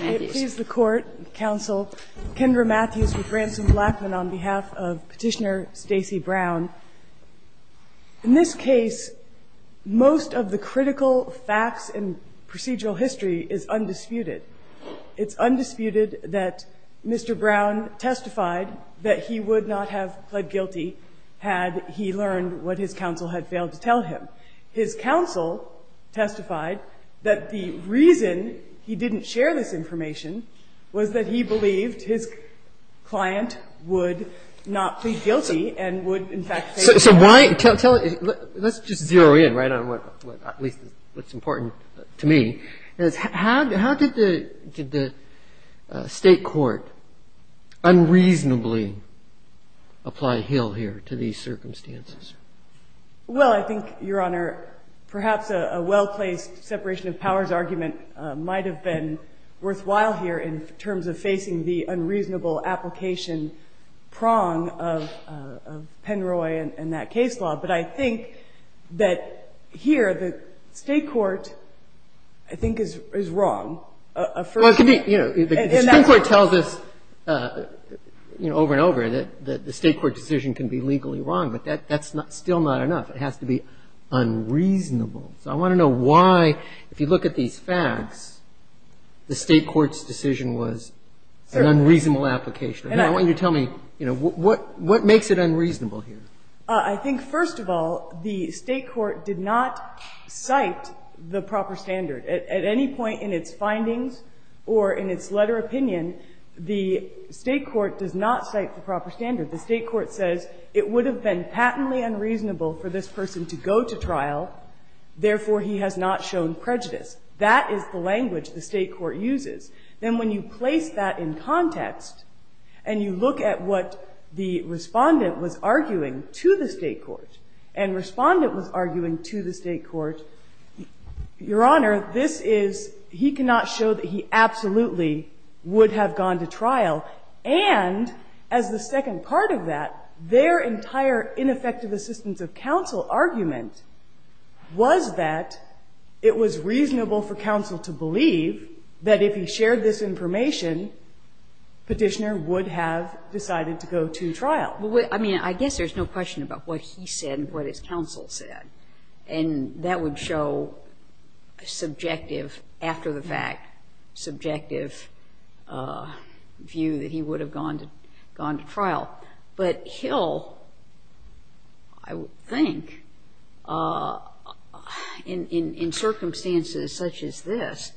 I please the Court, Counsel Kendra Matthews with Branson Blackman on behalf of Petitioner Stacey Brown. In this case, most of the critical facts and procedural history is undisputed. It's undisputed that Mr. Brown testified that he would not have pled guilty had he learned what his counsel had failed to tell him. His counsel testified that the reason he didn't share this information was that he believed his client would not plead guilty and would, in fact, pay for it. So why – tell – let's just zero in right on what – at least what's important to me. How did the State Court unreasonably apply Hill here to these circumstances? Well, I think, Your Honor, perhaps a well-placed separation of powers argument might have been worthwhile here in terms of facing the unreasonable application prong of Penroy and that case law. But I think that here the State Court, I think, is wrong. Well, it could be – the State Court tells us over and over that the State Court decision can be legally wrong. But that's still not enough. It has to be unreasonable. So I want to know why, if you look at these facts, the State Court's decision was an unreasonable application. And I want you to tell me, you know, what makes it unreasonable here? I think, first of all, the State Court did not cite the proper standard. At any point in its findings or in its letter opinion, the State Court does not cite the proper standard. The State Court says it would have been patently unreasonable for this person to go to trial. Therefore, he has not shown prejudice. That is the language the State Court uses. Then when you place that in context and you look at what the Respondent was arguing to the State Court, and Respondent was arguing to the State Court, Your Honor, this is – he cannot show that he absolutely would have gone to trial. And as the second part of that, their entire ineffective assistance of counsel argument was that it was reasonable for counsel to believe that if he shared this information, Petitioner would have decided to go to trial. Well, I mean, I guess there's no question about what he said and what his counsel said. And that would show a subjective, after-the-fact subjective view that he would have gone to trial. But Hill, I would think, in circumstances such as this,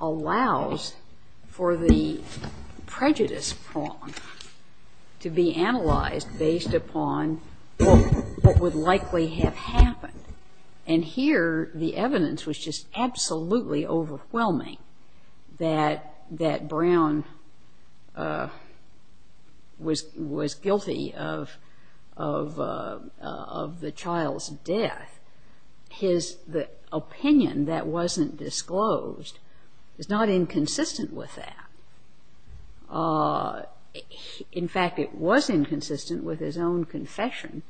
allows for the prejudice prong to be analyzed based upon what would likely have happened if Petitioner had gone to trial. And here, the evidence was just absolutely overwhelming that Brown was guilty of the child's death. His opinion that wasn't disclosed is not inconsistent with that. In fact, it was inconsistent with his own confession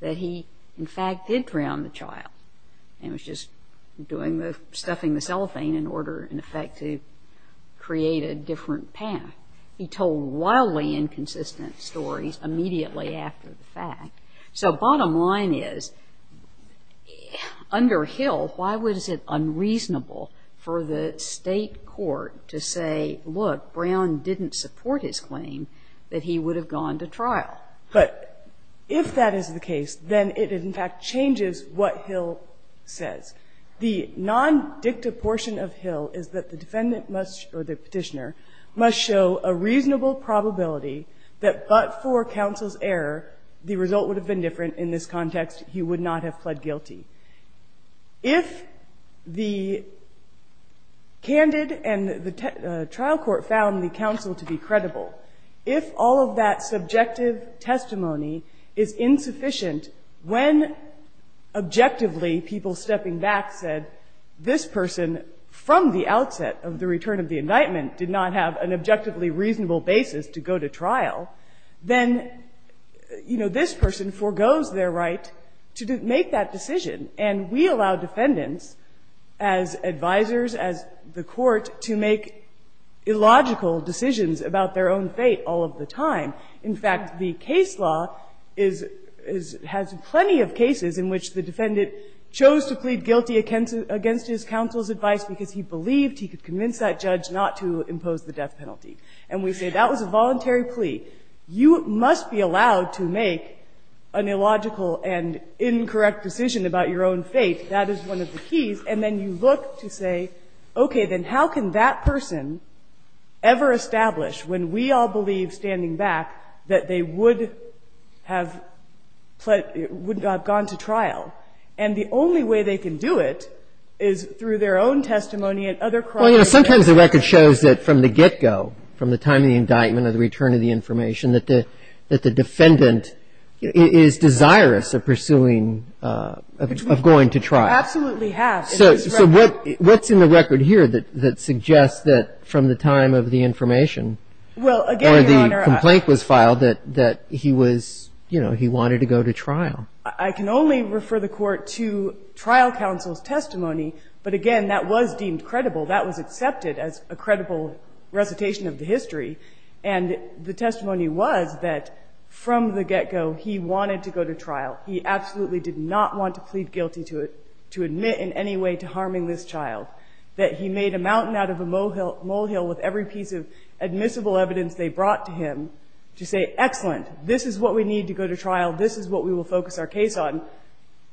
that he, in fact, did throw on the child and was just doing the – stuffing the cellophane in order, in effect, to create a different path. He told wildly inconsistent stories immediately after the fact. So bottom line is, under Hill, why was it unreasonable for the State Court to say, look, Brown didn't support his claim that he would have gone to trial? But if that is the case, then it, in fact, changes what Hill says. The non-dicta portion of Hill is that the defendant must, or the Petitioner, must show a reasonable probability that but for counsel's error, the result would have been different in this context. He would not have pled guilty. If the candid and the trial court found the counsel to be credible, if all of that subjective testimony is insufficient, when objectively people stepping back said, this person, from the outset of the return of the indictment, did not have an objectively reasonable basis to go to trial, then, you know, this person foregoes their right to make that decision. And we allow defendants, as advisors, as the Court, to make illogical decisions about their own fate all of the time. In fact, the case law is – has plenty of cases in which the defendant chose to plead guilty against his counsel's advice because he believed he could convince that judge not to impose the death penalty. And we say that was a voluntary plea. You must be allowed to make an illogical and incorrect decision about your own fate. That is one of the keys. And then you look to say, okay, then how can that person ever establish, when we all believe, standing back, that they would have pled – would have gone to trial? And the only way they can do it is through their own testimony and other cross-examination. The record shows that from the get-go, from the time of the indictment or the return of the information, that the defendant is desirous of pursuing – of going to trial. We absolutely have. So what's in the record here that suggests that from the time of the information or the complaint was filed that he was – you know, he wanted to go to trial? I can only refer the Court to trial counsel's testimony, but again, that was deemed credible. That was accepted as a credible recitation of the history. And the testimony was that from the get-go, he wanted to go to trial. He absolutely did not want to plead guilty to admit in any way to harming this child. That he made a mountain out of a molehill with every piece of admissible evidence they brought to him to say, excellent, this is what we need to go to trial. This is what we will focus our case on,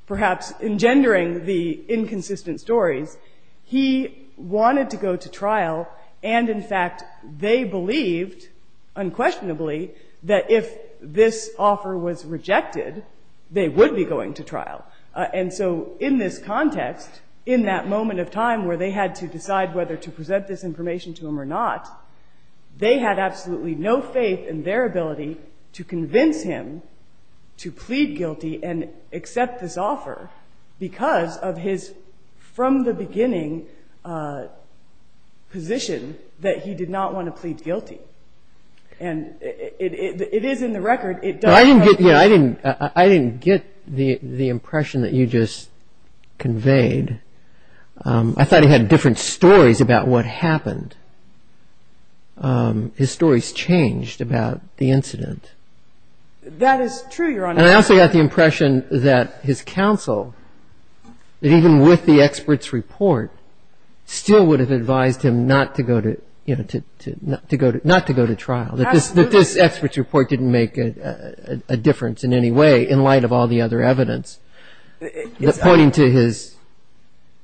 perhaps engendering the inconsistent stories. He wanted to go to trial, and in fact, they believed unquestionably that if this offer was rejected, they would be going to trial. And so in this context, in that moment of time where they had to decide whether to present this information to him or not, they had absolutely no faith in their ability to convince him to plead guilty and accept this offer because of his from the beginning position that he did not want to plead guilty. And it is in the record. I didn't get the impression that you just conveyed. I thought he had different stories about what happened. His stories changed about the incident. That is true, Your Honor. And I also got the impression that his counsel, that even with the expert's report, still would have advised him not to go to trial, that this expert's report didn't make a difference in any way in light of all the other evidence pointing to his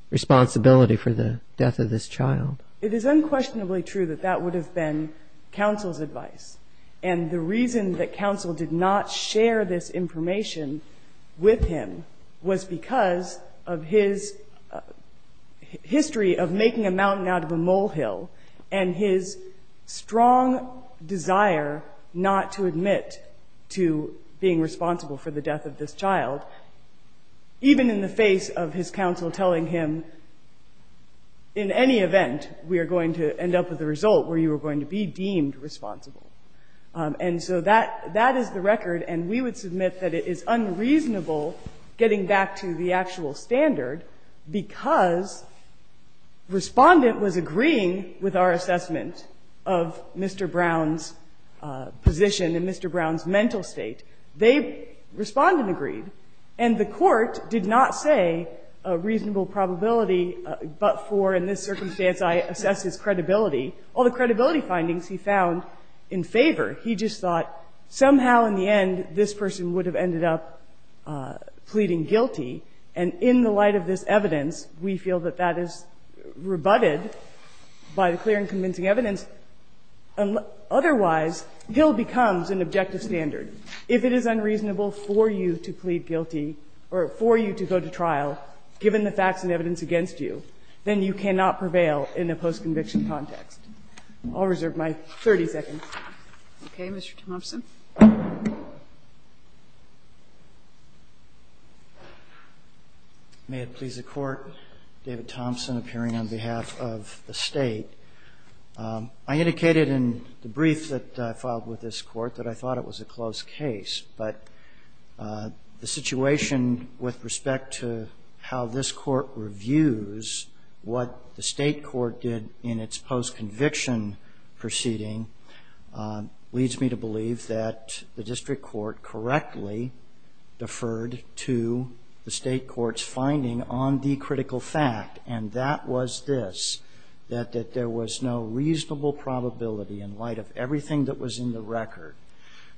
responsibility for the death of this child. It is unquestionably true that that would have been counsel's advice. And the reason that counsel did not share this information with him was because of his history of making a mountain out of a molehill and his strong desire not to admit to being responsible for the death of this child, even in the face of his counsel telling him, in any event, we are going to end up with a result where we were going to be deemed responsible. And so that is the record. And we would submit that it is unreasonable getting back to the actual standard because Respondent was agreeing with our assessment of Mr. Brown's position and Mr. Brown's mental state. They, Respondent, agreed. And the Court did not say a reasonable probability but for in this circumstance I assess his credibility. All the credibility findings he found in favor. He just thought somehow in the end this person would have ended up pleading guilty, and in the light of this evidence we feel that that is rebutted by the clear and convincing evidence. Otherwise, Hill becomes an objective standard. If it is unreasonable for you to plead guilty or for you to go to trial, given the I'll reserve my 30 seconds. Okay. Mr. Thompson. May it please the Court. David Thompson appearing on behalf of the State. I indicated in the brief that I filed with this Court that I thought it was a close case, but the situation with respect to how this Court reviews what the State Court did in its post-conviction proceeding leads me to believe that the District Court correctly deferred to the State Court's finding on the critical fact, and that was this, that there was no reasonable probability in light of everything that was in the record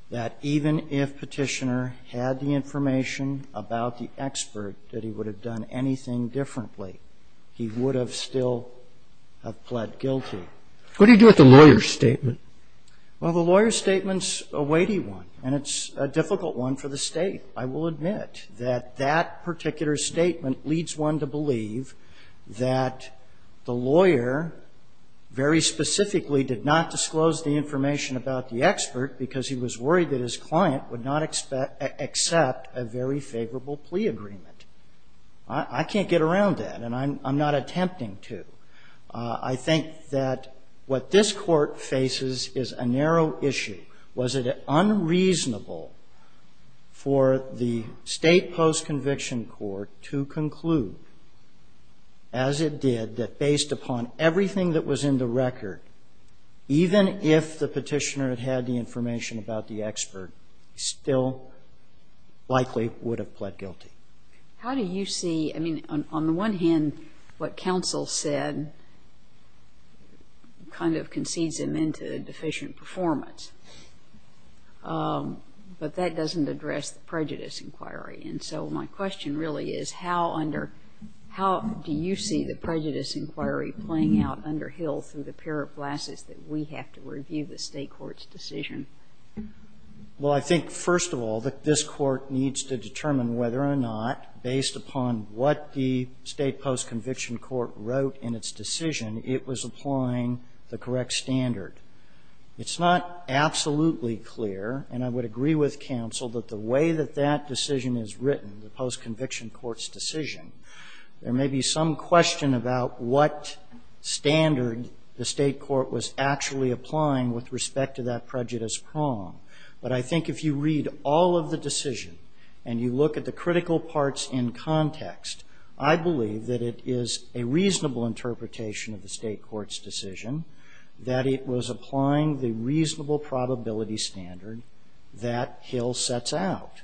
that even if Petitioner had the information about the expert that he would have done anything differently, he would have still have pled guilty. What do you do with the lawyer's statement? Well, the lawyer's statement's a weighty one, and it's a difficult one for the State. I will admit that that particular statement leads one to believe that the lawyer very specifically did not disclose the information about the expert because he was worried that his client would not accept a very favorable plea agreement. I can't get around that, and I'm not attempting to. I think that what this Court faces is a narrow issue. Was it unreasonable for the State post-conviction court to conclude, as it did, that based upon everything that was in the record, even if the Petitioner had had the expert, he still likely would have pled guilty? How do you see ñ I mean, on the one hand, what counsel said kind of concedes him into deficient performance, but that doesn't address the prejudice inquiry. And so my question really is, how do you see the prejudice inquiry playing out under Hill through the pair of glasses that we have to review the State court's decision? Well, I think, first of all, that this Court needs to determine whether or not, based upon what the State post-conviction court wrote in its decision, it was applying the correct standard. It's not absolutely clear, and I would agree with counsel, that the way that that decision is written, the post-conviction court's decision, there may be some question about what standard the State court was actually applying with respect to that prejudice prong. But I think if you read all of the decision and you look at the critical parts in context, I believe that it is a reasonable interpretation of the State court's decision that it was applying the reasonable probability standard that Hill sets out,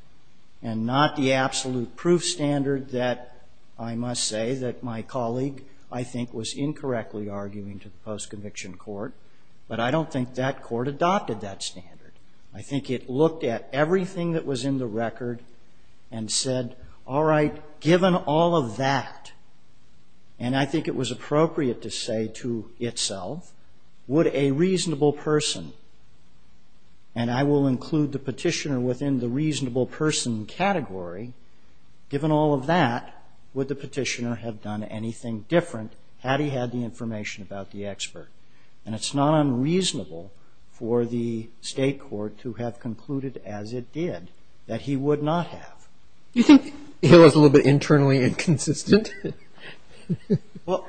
and not the absolute proof standard that, I must say, that my colleague, I think, was incorrectly arguing to the post-conviction court. But I don't think that court adopted that standard. I think it looked at everything that was in the record and said, all right, given all of that, and I think it was appropriate to say to itself, would a reasonable person, and I will include the Petitioner within the reasonable person category, given all of that, would the Petitioner have done anything different had he had the information about the expert? And it's not unreasonable for the State court to have concluded, as it did, that he would not have. Do you think Hill is a little bit internally inconsistent? Well,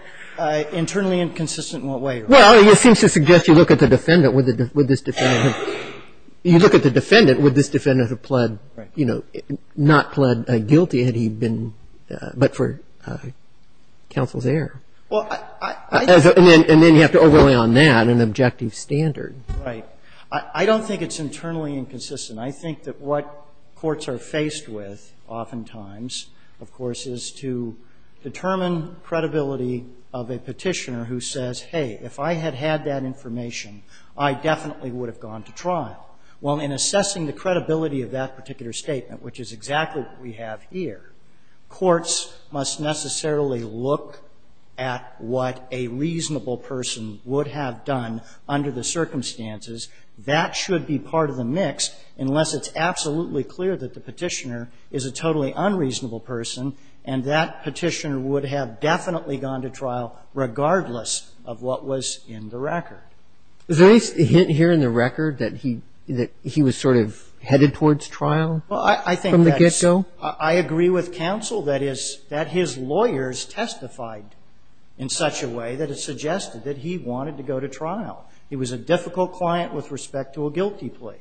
internally inconsistent in what way? Well, it seems to suggest you look at the defendant, would this defendant have pled, you know, not pled guilty had he been, but for counsel's error. And then you have to overlay on that an objective standard. Right. I don't think it's internally inconsistent. I think that what courts are faced with oftentimes, of course, is to determine credibility of a Petitioner who says, hey, if I had had that information, I definitely would have gone to trial. Well, in assessing the credibility of that particular statement, which is exactly what we have here, courts must necessarily look at what a reasonable person would have done under the circumstances. That should be part of the mix, unless it's absolutely clear that the Petitioner is a totally unreasonable person, and that Petitioner would have definitely gone to trial, regardless of what was in the record. Is there any hint here in the record that he was sort of headed towards trial from the get-go? I agree with counsel that his lawyers testified in such a way that it suggested that he wanted to go to trial. He was a difficult client with respect to a guilty plea.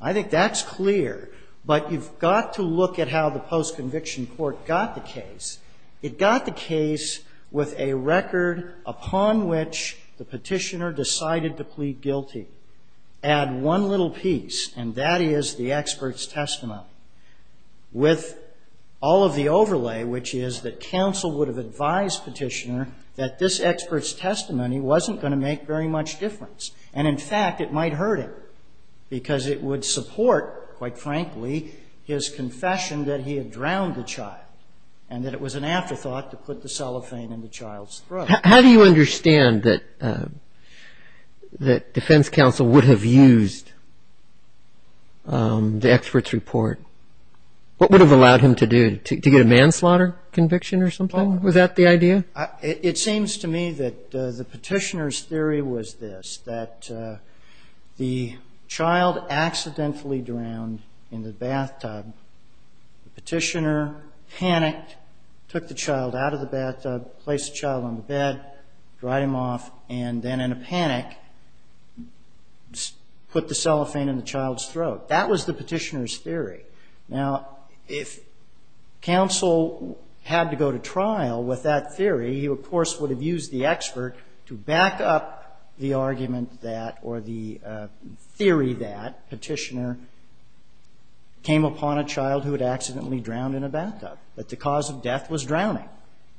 I think that's clear, but you've got to look at how the post-conviction court got the case. It got the case with a record upon which the Petitioner decided to plead guilty. Add one little piece, and that is the expert's testimony, with all of the overlay, which is that counsel would have advised Petitioner that this expert's testimony wasn't going to make very much difference. And, in fact, it might hurt him, because it would support, quite frankly, his confession that he had drowned the child, and that it was an afterthought to put the cellophane in the child's throat. How do you understand that defense counsel would have used the expert's report? What would have allowed him to get a manslaughter conviction or something? Was that the idea? It seems to me that the Petitioner's theory was this, that the child accidentally drowned in the bathtub. The Petitioner panicked, took the child out of the bathtub, placed the child on the bed, dried him off, and then, in a panic, put the cellophane in the child's throat. That was the Petitioner's theory. Now, if counsel had to go to trial with that theory, he, of course, would have used the expert to back up the argument that, or the theory that Petitioner came upon a child who had accidentally drowned in a bathtub, that the cause of death was drowning.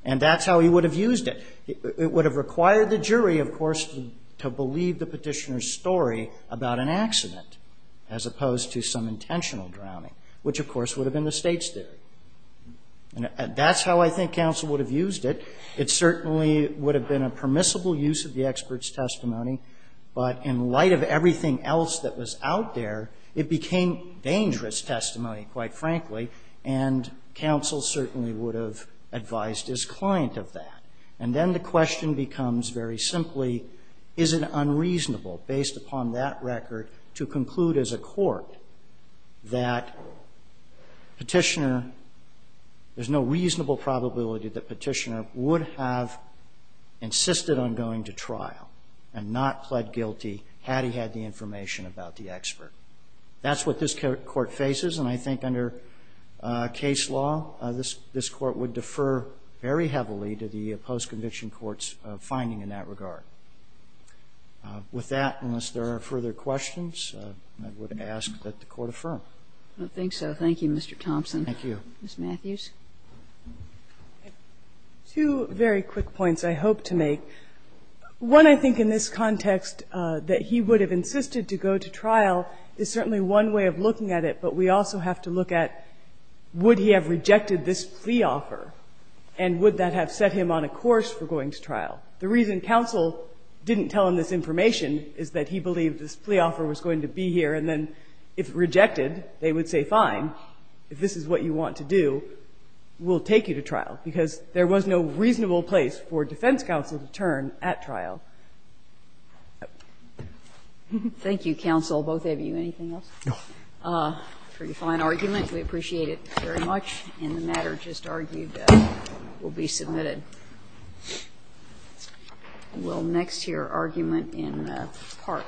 And that's how he would have used it. It would have required the jury, of course, to believe the Petitioner's story about an accident, as opposed to some intentional drowning, which, of course, would have been the State's theory. And that's how I think counsel would have used it. It certainly would have been a permissible use of the expert's testimony. But in light of everything else that was out there, it became dangerous testimony, quite frankly. And counsel certainly would have advised his client of that. And then the question becomes, very simply, is it unreasonable, based upon that record, to conclude as a court that Petitioner, there's no reasonable probability that Petitioner would have insisted on going to trial and not pled guilty had he had the information about the expert. That's what this court faces. And I think under case law, this Court would defer very heavily to the post-conviction court's finding in that regard. With that, unless there are further questions, I would ask that the Court affirm. Kagan. I don't think so. Thank you, Mr. Thompson. Thank you. Ms. Matthews. Two very quick points I hope to make. One, I think, in this context, that he would have insisted to go to trial is certainly one way of looking at it, but we also have to look at would he have rejected this plea offer, and would that have set him on a course for going to trial? The reason counsel didn't tell him this information is that he believed this plea offer was going to be here, and then if it rejected, they would say, fine, if this is what you want to do, we'll take you to trial, because there was no reasonable place for defense counsel to turn at trial. Thank you, counsel. Both of you. Anything else? No. It's a pretty fine argument. We appreciate it very much. And the matter just argued will be submitted. We'll next hear argument in the park. Thank you.